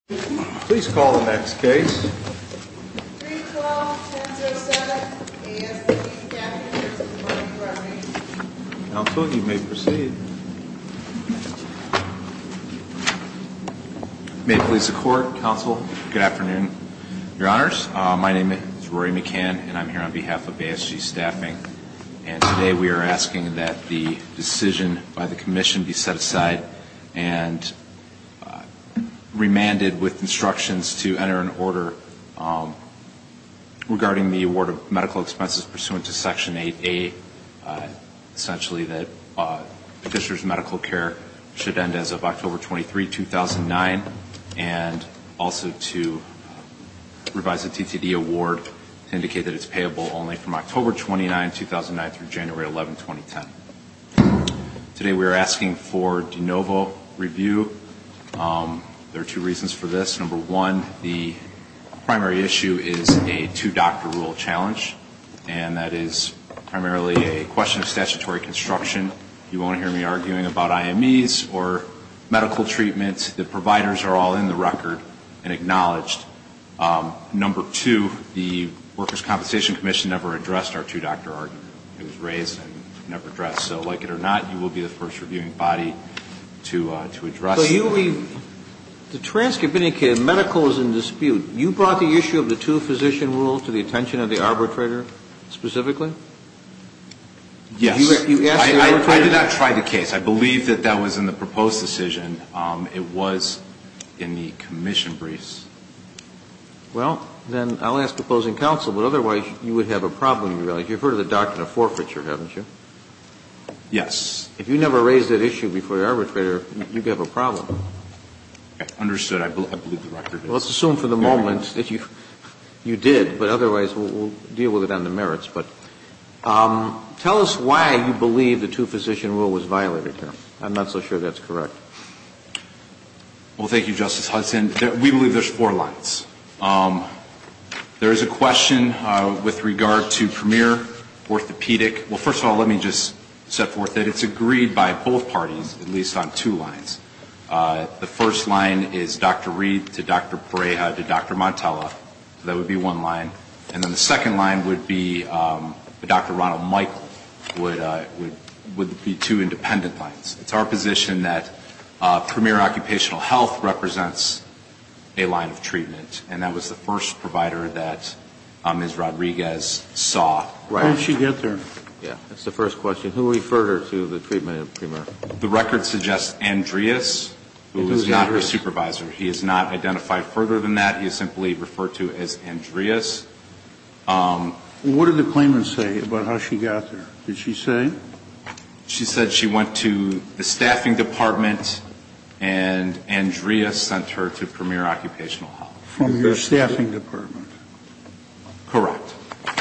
312-1007 ASG Staffing, Inc. v. Workers' Compensation Comm'n 312-1007 ASG Staffing, Inc. v. Workers' Compensation Comm'n 312-1007 ASG Staffing, Inc. There are two reasons for this. Number one, the primary issue is a two-doctor rule challenge, and that is primarily a question of statutory construction. You won't hear me arguing about IMEs or medical treatment. The providers are all in the record and acknowledged. Number two, the Workers' Compensation Commission never addressed our two-doctor argument. It was raised and never addressed. So like it or not, you will be the first reviewing body to address it. So you mean the Trans-Cabinet case, medical is in dispute. You brought the issue of the two-physician rule to the attention of the arbitrator specifically? Yes. You asked the arbitrator? I did not try the case. I believe that that was in the proposed decision. It was in the commission briefs. Well, then I'll ask opposing counsel, but otherwise you would have a problem. You've heard of the doctrine of forfeiture, haven't you? Yes. If you never raised that issue before the arbitrator, you'd have a problem. Understood. I believe the record is clear. Let's assume for the moment that you did, but otherwise we'll deal with it on the merits. But tell us why you believe the two-physician rule was violated here. I'm not so sure that's correct. Well, thank you, Justice Hudson. We believe there's four lines. There is a question with regard to Premier Orthopedic. Well, first of all, let me just set forth that it's agreed by both parties, at least on two lines. The first line is Dr. Reed to Dr. Pareja to Dr. Montella. That would be one line. And then the second line would be Dr. Ronald Michael would be two independent lines. It's our position that Premier Occupational Health represents a line of treatment, and that was the first provider that Ms. Rodriguez saw. How did she get there? Yeah, that's the first question. Who referred her to the treatment of Premier? The record suggests Andreas, who is not her supervisor. He is not identified further than that. He is simply referred to as Andreas. What did the claimant say about how she got there? Did she say? She said she went to the staffing department and Andreas sent her to Premier Occupational Health. From your staffing department? Correct.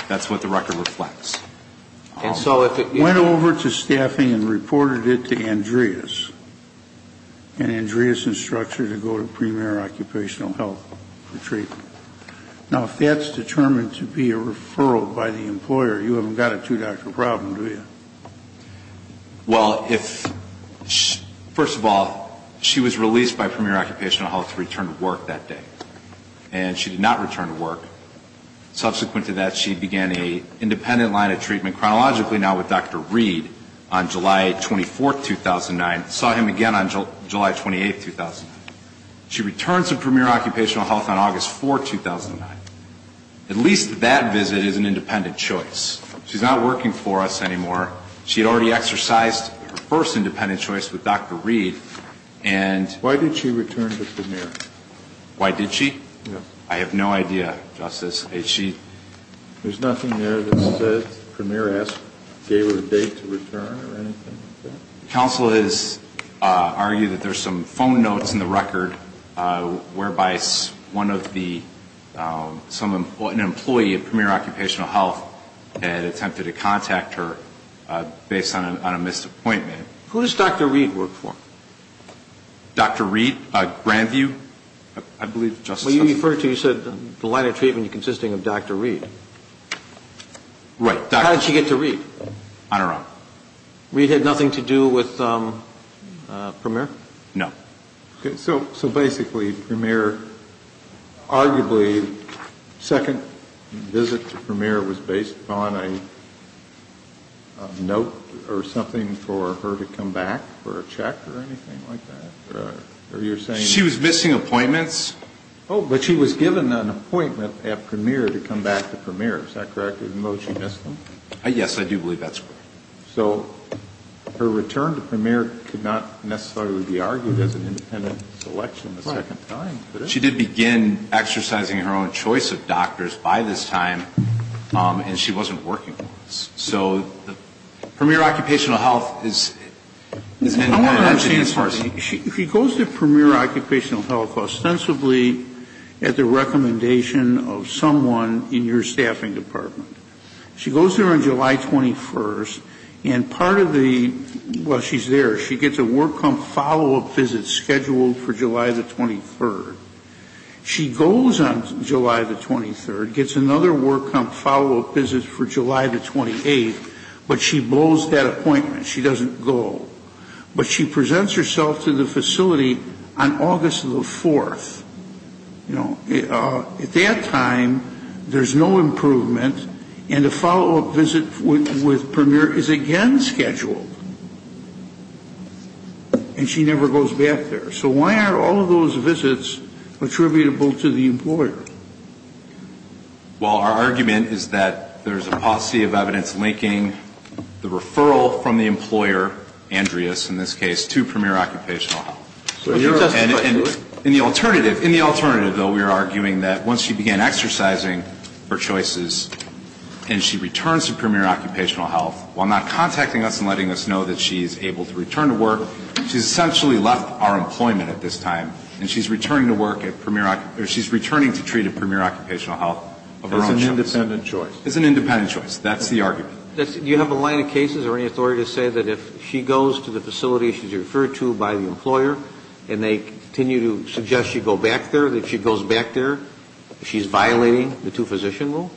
That's what the record reflects. Went over to staffing and reported it to Andreas, and Andreas instructed her to go to Premier Occupational Health for treatment. Now, if that's determined to be a referral by the employer, you haven't got a two-doctor problem, do you? Well, first of all, she was released by Premier Occupational Health to return to work that day, and she did not return to work. Subsequent to that, she began an independent line of treatment chronologically now with Dr. Reed on July 24, 2009, and saw him again on July 28, 2009. She returned to Premier Occupational Health on August 4, 2009. At least that visit is an independent choice. She's not working for us anymore. She had already exercised her first independent choice with Dr. Reed. Why did she return to Premier? Why did she? I have no idea, Justice. There's nothing there that says Premier gave her a date to return or anything like that? Counsel has argued that there's some phone notes in the record whereby one of the employees at Premier Occupational Health had attempted to contact her based on a missed appointment. Who does Dr. Reed work for? Dr. Reed? Grandview, I believe, Justice? Well, you referred to, you said, the line of treatment consisting of Dr. Reed. Right. How did she get to Reed? On her own. Reed had nothing to do with Premier? No. Okay. So basically Premier, arguably, second visit to Premier was based on a note or something for her to come back for a check or anything like that? Right. Or you're saying? She was missing appointments. Oh, but she was given an appointment at Premier to come back to Premier. Is that correct? Even though she missed them? Yes, I do believe that's correct. So her return to Premier could not necessarily be argued as an independent selection the second time. Right. She did begin exercising her own choice of doctors by this time, and she wasn't working. So Premier Occupational Health is an adjacent source. I want to understand something. She goes to Premier Occupational Health ostensibly at the recommendation of someone in your staffing department. She goes there on July 21st, and part of the, well, she's there. She gets a work come follow-up visit scheduled for July the 23rd. She goes on July the 23rd, gets another work come follow-up visit for July the 28th, but she blows that appointment. She doesn't go. But she presents herself to the facility on August the 4th. At that time, there's no improvement, and a follow-up visit with Premier is again scheduled. And she never goes back there. So why aren't all of those visits attributable to the employer? Well, our argument is that there's a paucity of evidence linking the referral from the employer, Andreas in this case, to Premier Occupational Health. In the alternative, though, we are arguing that once she began exercising her choices and she returns to Premier Occupational Health, while not contacting us and letting us know that she is able to return to work, she's essentially left our employment at this time. And she's returning to work at Premier Occupational Health, or she's returning to treat at Premier Occupational Health. It's an independent choice. It's an independent choice. That's the argument. Do you have a line of cases or any authority to say that if she goes to the facility she's referred to by the employer and they continue to suggest she go back there, that she goes back there, she's violating the two-physician rule?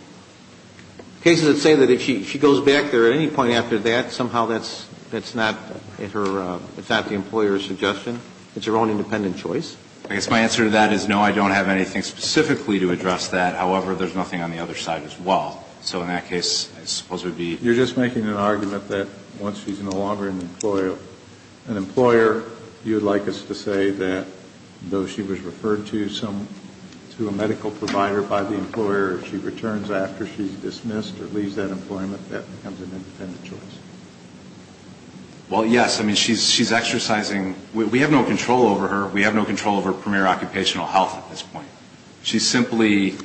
Cases that say that if she goes back there at any point after that, somehow that's not the employer's suggestion. It's her own independent choice. I guess my answer to that is no, I don't have anything specifically to address that. However, there's nothing on the other side as well. So in that case, I suppose it would be... You're just making an argument that once she's no longer an employer, you would like us to say that though she was referred to a medical provider by the employer, she returns after she's dismissed or leaves that employment, that becomes an independent choice. Well, yes. I mean, she's exercising. We have no control over her. We have no control over Premier Occupational Health at this point. She's simply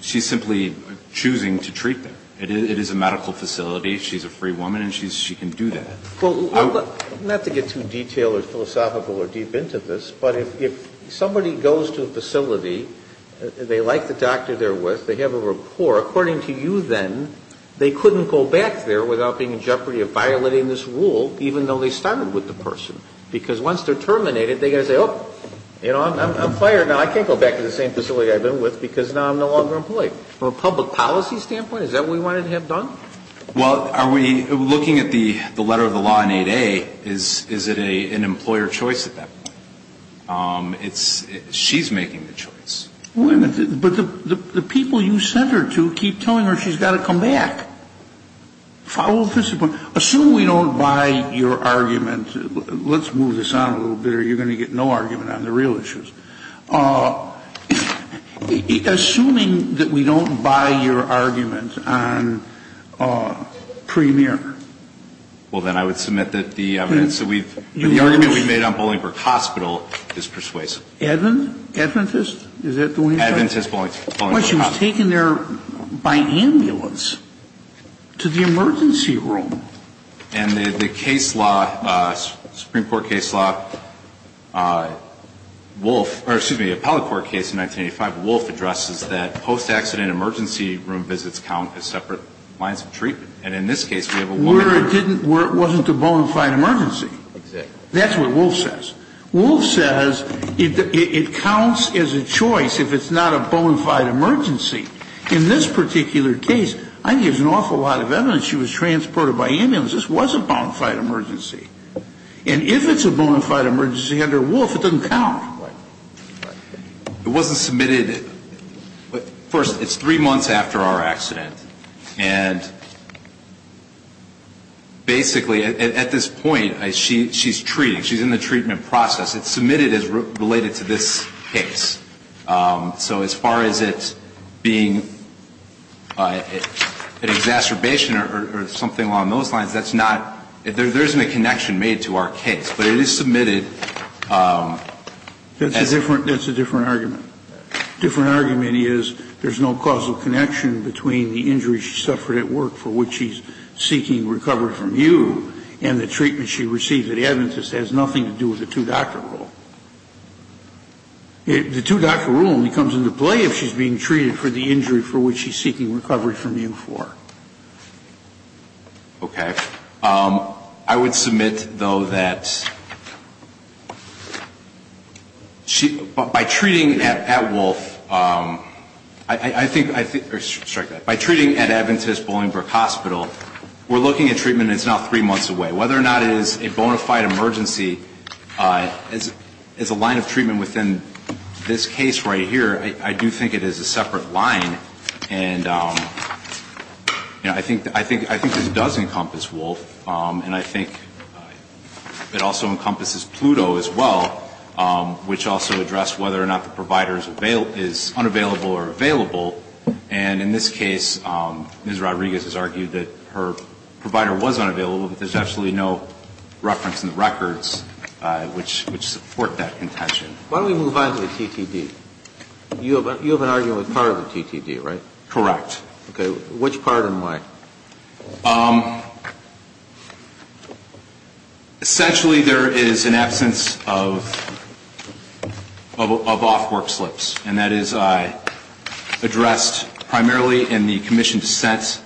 choosing to treat them. It is a medical facility. She's a free woman and she can do that. Not to get too detailed or philosophical or deep into this, but if somebody goes to a facility, they like the doctor they're with, they have a rapport, according to you then, they couldn't go back there without being in jeopardy of violating this rule, even though they started with the person. Because once they're terminated, they've got to say, oh, you know, I'm fired now. I can't go back to the same facility I've been with because now I'm no longer employed. From a public policy standpoint, is that what we wanted to have done? Well, are we looking at the letter of the law in 8A? Is it an employer choice at that point? It's she's making the choice. But the people you sent her to keep telling her she's got to come back. Follow discipline. Assume we don't buy your argument. Let's move this on a little bit or you're going to get no argument on the real issues. Assuming that we don't buy your argument on Premier. Well, then I would submit that the argument we made on Bolingbroke Hospital is persuasive. Adventist? Is that the one you said? Adventist, Bolingbroke Hospital. But she was taken there by ambulance to the emergency room. And the case law, Supreme Court case law, Wolfe, or excuse me, appellate court case in 1985, Wolfe addresses that post-accident emergency room visits count as separate lines of treatment. And in this case, we have a woman. Where it didn't, where it wasn't a bona fide emergency. Exactly. That's what Wolfe says. Wolfe says it counts as a choice if it's not a bona fide emergency. In this particular case, I think there's an awful lot of evidence she was transported by ambulance. This was a bona fide emergency. And if it's a bona fide emergency under Wolfe, it doesn't count. It wasn't submitted. First, it's three months after our accident. And basically, at this point, she's treating. She's in the treatment process. It's submitted as related to this case. So as far as it being an exacerbation or something along those lines, that's not, there isn't a connection made to our case. But it is submitted. That's a different argument. A different argument is there's no causal connection between the injury she suffered at work for which she's seeking recovery from you and the treatment she received at Adventist has nothing to do with the two-doctor rule. The two-doctor rule only comes into play if she's being treated for the injury for which she's seeking recovery from you for. Okay. I would submit, though, that she, by treating at Wolfe, I think, or strike that. By treating at Adventist Bloomingbrook Hospital, we're looking at treatment that's now three months away. Whether or not it is a bona fide emergency, as a line of treatment within this case right here, I do think it is a separate line. And I think this does encompass Wolfe. And I think it also encompasses Pluto as well, which also addressed whether or not the provider is unavailable or available. And in this case, Ms. Rodriguez has argued that her provider was unavailable, but there's absolutely no reference in the records which support that intention. Why don't we move on to the TTD? You have an argument with part of the TTD, right? Correct. Okay. Which part and why? Essentially, there is an absence of off-work slips. And that is addressed primarily in the commission dissent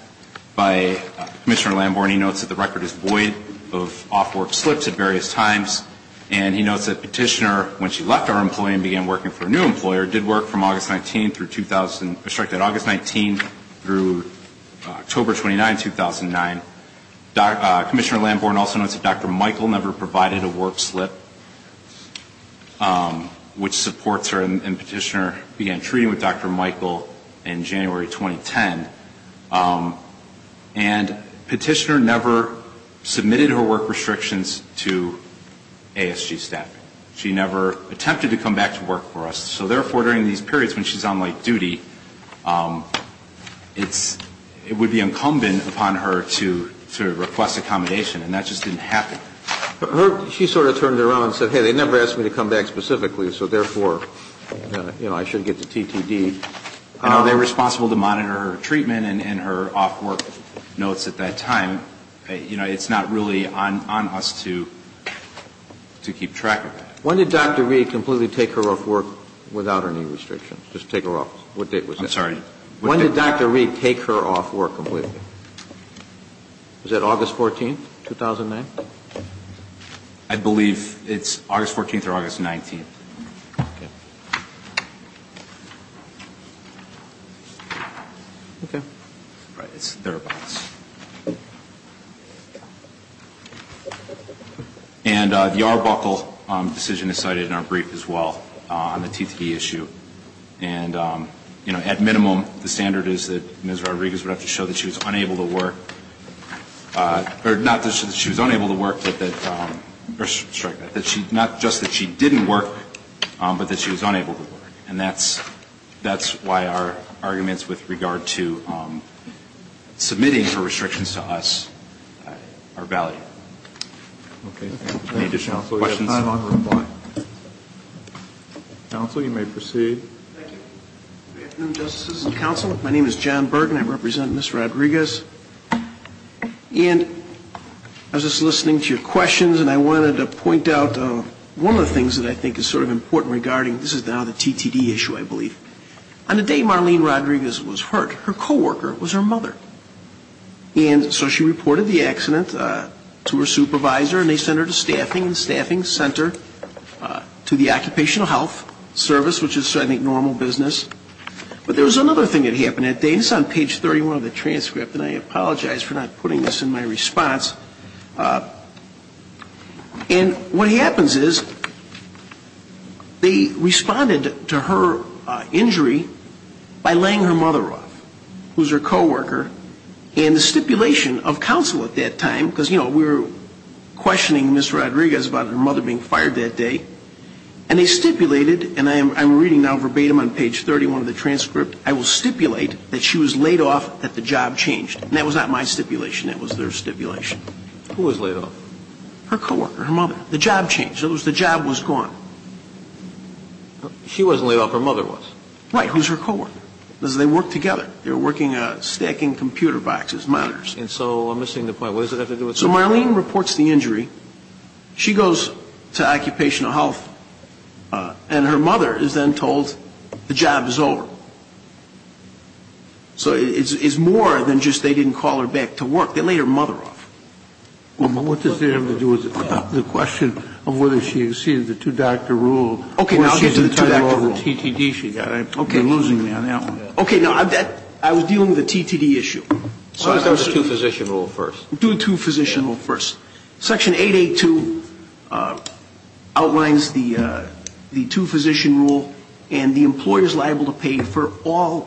by Commissioner Lambourne. He notes that the record is void of off-work slips at various times. And he notes that Petitioner, when she left our employee and began working for a new employer, did work from August 19 through October 29, 2009. Commissioner Lambourne also notes that Dr. Michael never provided a work slip, which supports her. And Petitioner began treating with Dr. Michael in January 2010. And Petitioner never submitted her work restrictions to ASG staffing. She never attempted to come back to work for us. So therefore, during these periods when she's on late duty, it would be incumbent upon her to request accommodation. And that just didn't happen. She sort of turned around and said, hey, they never asked me to come back specifically, so therefore, you know, I should get the TTD. You know, they're responsible to monitor her treatment and her off-work notes at that time. You know, it's not really on us to keep track of that. When did Dr. Reed completely take her off work without any restrictions? Just take her off. I'm sorry. When did Dr. Reed take her off work completely? Was that August 14, 2009? I believe it's August 14th or August 19th. Okay. Right, it's thereabouts. And the Arbuckle decision is cited in our brief as well on the TTD issue. And, you know, at minimum, the standard is that Ms. Rodriguez would have to show that she was unable to work, or not that she was unable to work, but that she, not just that she didn't work, but that she was unable to work. And that's why our arguments with regard to submitting her restrictions to us are valid. Any additional questions? Counsel, you may proceed. Good afternoon, Justices and Counsel. My name is John Burton. I represent Ms. Rodriguez. And I was just listening to your questions, and I wanted to point out one of the things that I think is sort of important regarding, this is now the TTD issue, I believe. On the day Marlene Rodriguez was hurt, her co-worker was her mother. And so she reported the accident to her supervisor, and they sent her to staffing, and the staffing sent her to the occupational health service, which is, I think, normal business. But there was another thing that happened that day, and it's on page 31 of the transcript, and I apologize for not putting this in my response. And what happens is they responded to her injury by laying her mother off, who's her co-worker. And the stipulation of counsel at that time, because, you know, we were questioning Ms. Rodriguez about her mother being fired that day, and they stipulated, and I'm reading now verbatim on page 31 of the transcript, I will stipulate that she was laid off, that the job changed. And that was not my stipulation. That was their stipulation. Who was laid off? Her co-worker, her mother. The job changed. In other words, the job was gone. She wasn't laid off. Her mother was. Right. Who was her co-worker? Because they worked together. They were working stacking computer boxes, monitors. And so I'm missing the point. What does that have to do with something else? So Marlene reports the injury. She goes to occupational health, and her mother is then told the job is over. So it's more than just they didn't call her back to work. They laid her mother off. What does that have to do with the question of whether she exceeded the two-doctor rule? Okay, now I'll get to the two-doctor rule. Or she's entitled to the TTD she got. Okay. You're losing me on that one. Okay. Now, I was dealing with the TTD issue. Do the two-physician rule first. Do the two-physician rule first. Section 882 outlines the two-physician rule, and the employer is liable to pay for all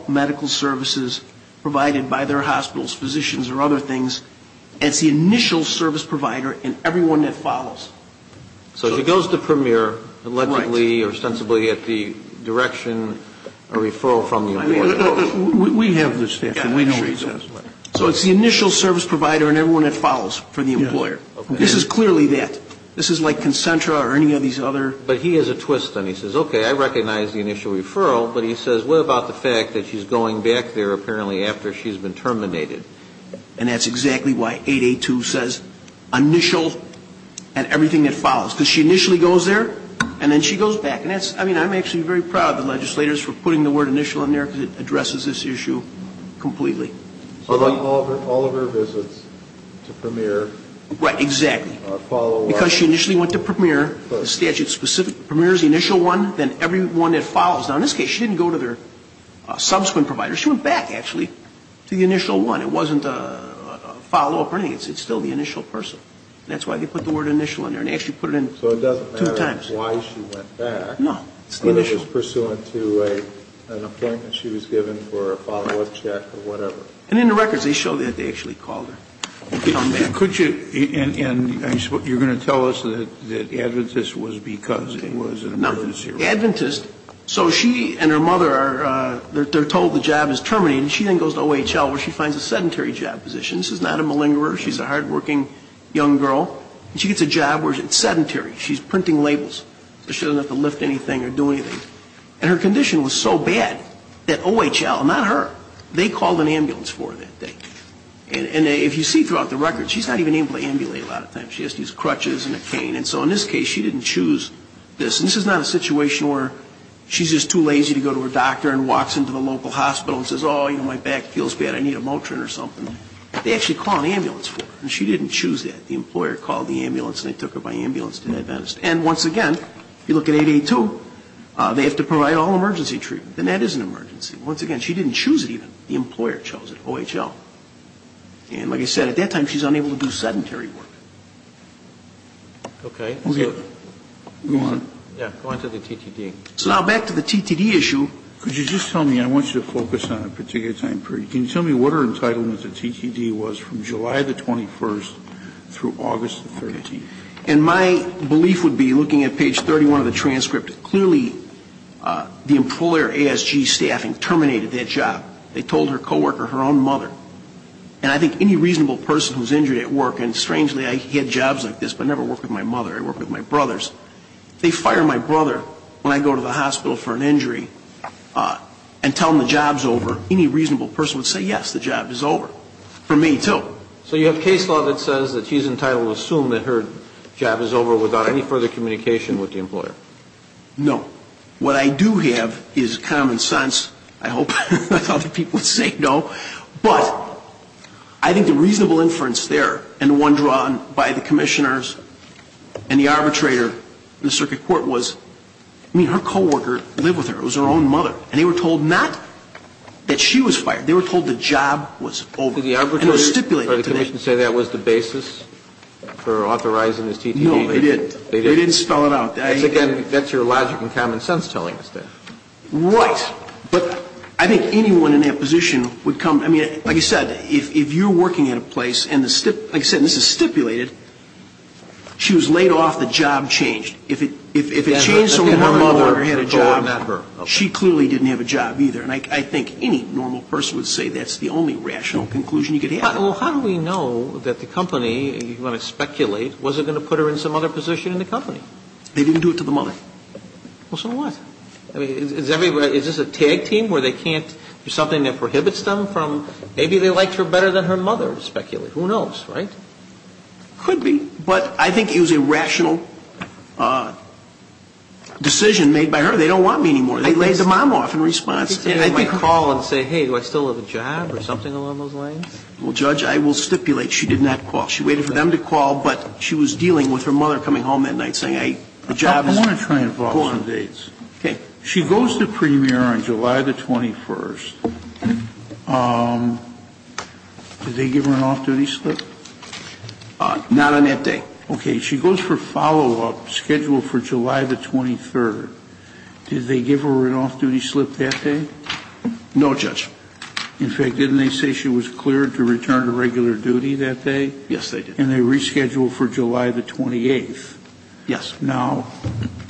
So she goes to Premier allegedly or ostensibly at the direction, a referral from the employer. We have the statute. We know the statute. So it's the initial service provider and everyone that follows for the employer. Okay. This is clearly that. This is like Concentra or any of these other. But he has a twist, then. He says, okay, I recognize the initial referral. But he says, what about the fact that she's going back there apparently after she's been terminated? And that's exactly why 882 says initial and everything that follows. Because she initially goes there, and then she goes back. And that's, I mean, I'm actually very proud of the legislators for putting the word initial in there, because it addresses this issue completely. So all of her visits to Premier are follow-up. Right. Exactly. Because she initially went to Premier. The statute specifically Premier is the initial one, then everyone that follows. Now, in this case, she didn't go to their subsequent provider. She went back, actually, to the initial one. It wasn't a follow-up or anything. It's still the initial person. And that's why they put the word initial in there. And they actually put it in two times. So it doesn't matter why she went back. No. It's the initial. Whether it was pursuant to an appointment she was given for a follow-up check or whatever. And in the records, they show that they actually called her. Could you, and I suppose you're going to tell us that Adventist was because it was a zero. Now, Adventist, so she and her mother are told the job is terminated. She then goes to OHL where she finds a sedentary job position. This is not a malingerer. She's a hardworking young girl. And she gets a job where it's sedentary. She's printing labels so she doesn't have to lift anything or do anything. And her condition was so bad that OHL, not her, they called an ambulance for her that day. And if you see throughout the records, she's not even able to ambulate a lot of times. She has these crutches and a cane. And so in this case, she didn't choose this. And this is not a situation where she's just too lazy to go to her doctor and walks into the local hospital and says, oh, you know, my back feels bad. I need a Motrin or something. They actually call an ambulance for her. And she didn't choose that. The employer called the ambulance and they took her by ambulance to Adventist. And once again, if you look at 882, they have to provide all emergency treatment. And that is an emergency. Once again, she didn't choose it even. The employer chose it, OHL. And like I said, at that time, she's unable to do sedentary work. Okay. Go on. Yeah. Go on to the TTD. So now back to the TTD issue. Could you just tell me, I want you to focus on a particular time period. Can you tell me what her entitlement to TTD was from July the 21st through August the 13th? And my belief would be, looking at page 31 of the transcript, clearly the employer ASG staffing terminated that job. They told her coworker, her own mother. And I think any reasonable person who's injured at work, and strangely, I get jobs like this, but I never work with my mother. I work with my brothers. They fire my brother when I go to the hospital for an injury and tell him the job's over. Any reasonable person would say, yes, the job is over. For me, too. So you have case law that says that she's entitled to assume that her job is over without any further communication with the employer. No. What I do have is common sense. I hope other people would say no. But I think the reasonable inference there and the one drawn by the commissioners and the arbitrator in the circuit court was, I mean, her coworker lived with her. It was her own mother. And they were told not that she was fired. They were told the job was over. And it was stipulated to them. Did the arbitrator or the commission say that was the basis for authorizing this TTD? No, they didn't. They didn't spell it out. Because, again, that's your logic and common sense telling us that. Right. But I think anyone in that position would come. I mean, like you said, if you're working at a place and, like you said, this is stipulated, she was laid off, the job changed. If it changed so her mother had a job, she clearly didn't have a job either. And I think any normal person would say that's the only rational conclusion you could have. Well, how do we know that the company, you want to speculate, wasn't going to put her in some other position in the company? They didn't do it to the mother. Well, so what? I mean, is this a tag team where they can't do something that prohibits them from maybe they liked her better than her mother, speculate. Who knows, right? Could be. But I think it was a rational decision made by her. They don't want me anymore. They laid the mom off in response. Can't anybody call and say, hey, do I still have a job or something along those lines? Well, Judge, I will stipulate she did not call. She waited for them to call, but she was dealing with her mother coming home that night saying, hey, the job is gone. Okay. She goes to Premier on July the 21st. Did they give her an off-duty slip? Not on that day. Okay. She goes for follow-up scheduled for July the 23rd. Did they give her an off-duty slip that day? No, Judge. In fact, didn't they say she was cleared to return to regular duty that day? Yes, they did. And they rescheduled for July the 28th. Yes. Now,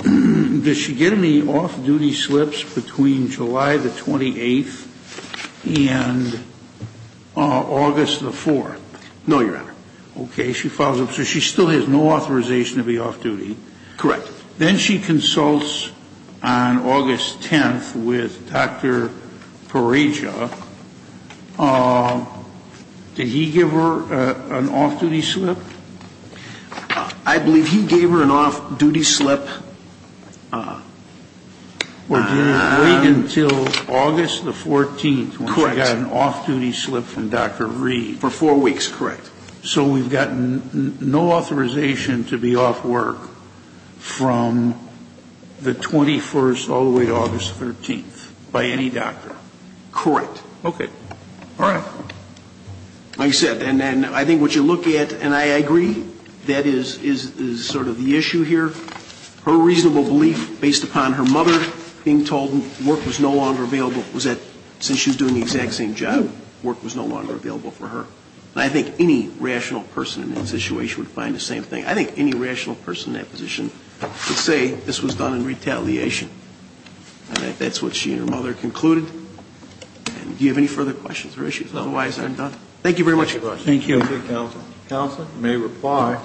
does she get any off-duty slips between July the 28th and August the 4th? No, Your Honor. Okay. She follows up. So she still has no authorization to be off-duty. Correct. Then she consults on August 10th with Dr. Pereja. Did he give her an off-duty slip? I believe he gave her an off-duty slip until August the 14th. Correct. When she got an off-duty slip from Dr. Reed. For four weeks. Correct. So we've got no authorization to be off work from the 21st all the way to August 13th by any doctor. Correct. Okay. All right. dates for that inquiry? We'll go to jury 12 with either at or with Mr. Davidson, please. I accept. And I think what you look at, and I agree that is sort of the issue here. Her reasonable belief based upon her mother being told work was no longer available was that since she was doing the exact same job, work was no longer available for her. And I think any rational person in that situation would find the same thing. I think any rational person in that position would say this was done in retaliation. And that's what she and her mother concluded. And do you have any further questions or issues? Otherwise, I'm done. Thank you very much, Your Honor. Thank you. Thank you, counsel. Counsel may reply.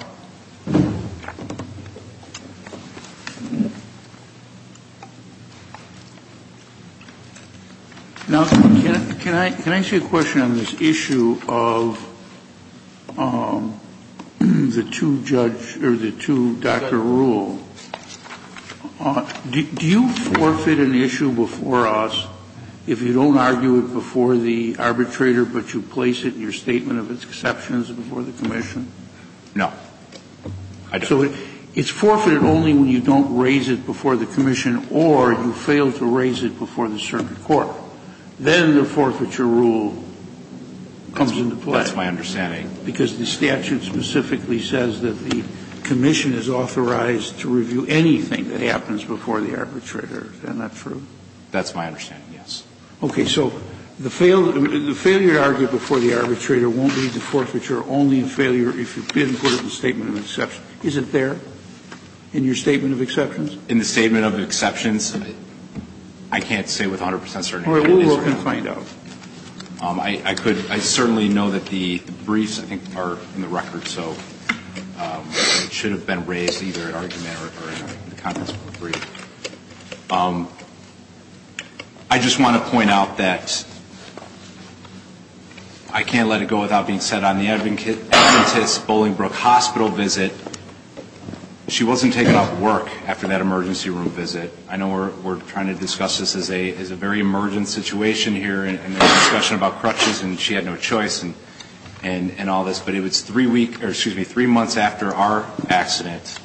Now, can I ask you a question on this issue of the two judge or the two Dr. Rule? Do you forfeit an issue before us if you don't argue it before the arbitrator but you place it in your statement of its exceptions before the commission? No. I don't. So it's forfeited only when you don't raise it before the commission or you fail to raise it before the circuit court. Then the forfeiture rule comes into play. That's my understanding. Because the statute specifically says that the commission is authorized to review anything that happens before the arbitrator. Is that not true? That's my understanding, yes. Okay. So the failure to argue it before the arbitrator won't be the forfeiture, only the failure if you didn't put it in the statement of exceptions. Is it there in your statement of exceptions? In the statement of exceptions, I can't say with 100 percent certainty. All right. We will find out. I could. I certainly know that the briefs, I think, are in the record. So it should have been raised either in argument or in the contents of the brief. I just want to point out that I can't let it go without being said, on the Adventist Bolingbrook Hospital visit, she wasn't taken off work after that emergency room visit. I know we're trying to discuss this as a very emergent situation here in the discussion about crutches, and she had no choice and all this. But it was three weeks or, excuse me, three months after our accident.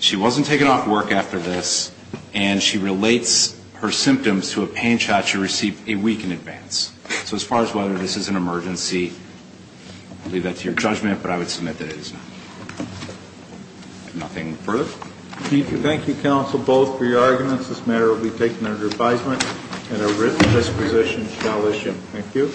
She wasn't taken off work after this, and she relates her symptoms to a pain shot she received a week in advance. So as far as whether this is an emergency, I'll leave that to your judgment, but I would submit that it is not. Nothing further? Thank you, counsel, both for your arguments. This matter will be taken under advisement, and a written disposition shall issue. Thank you.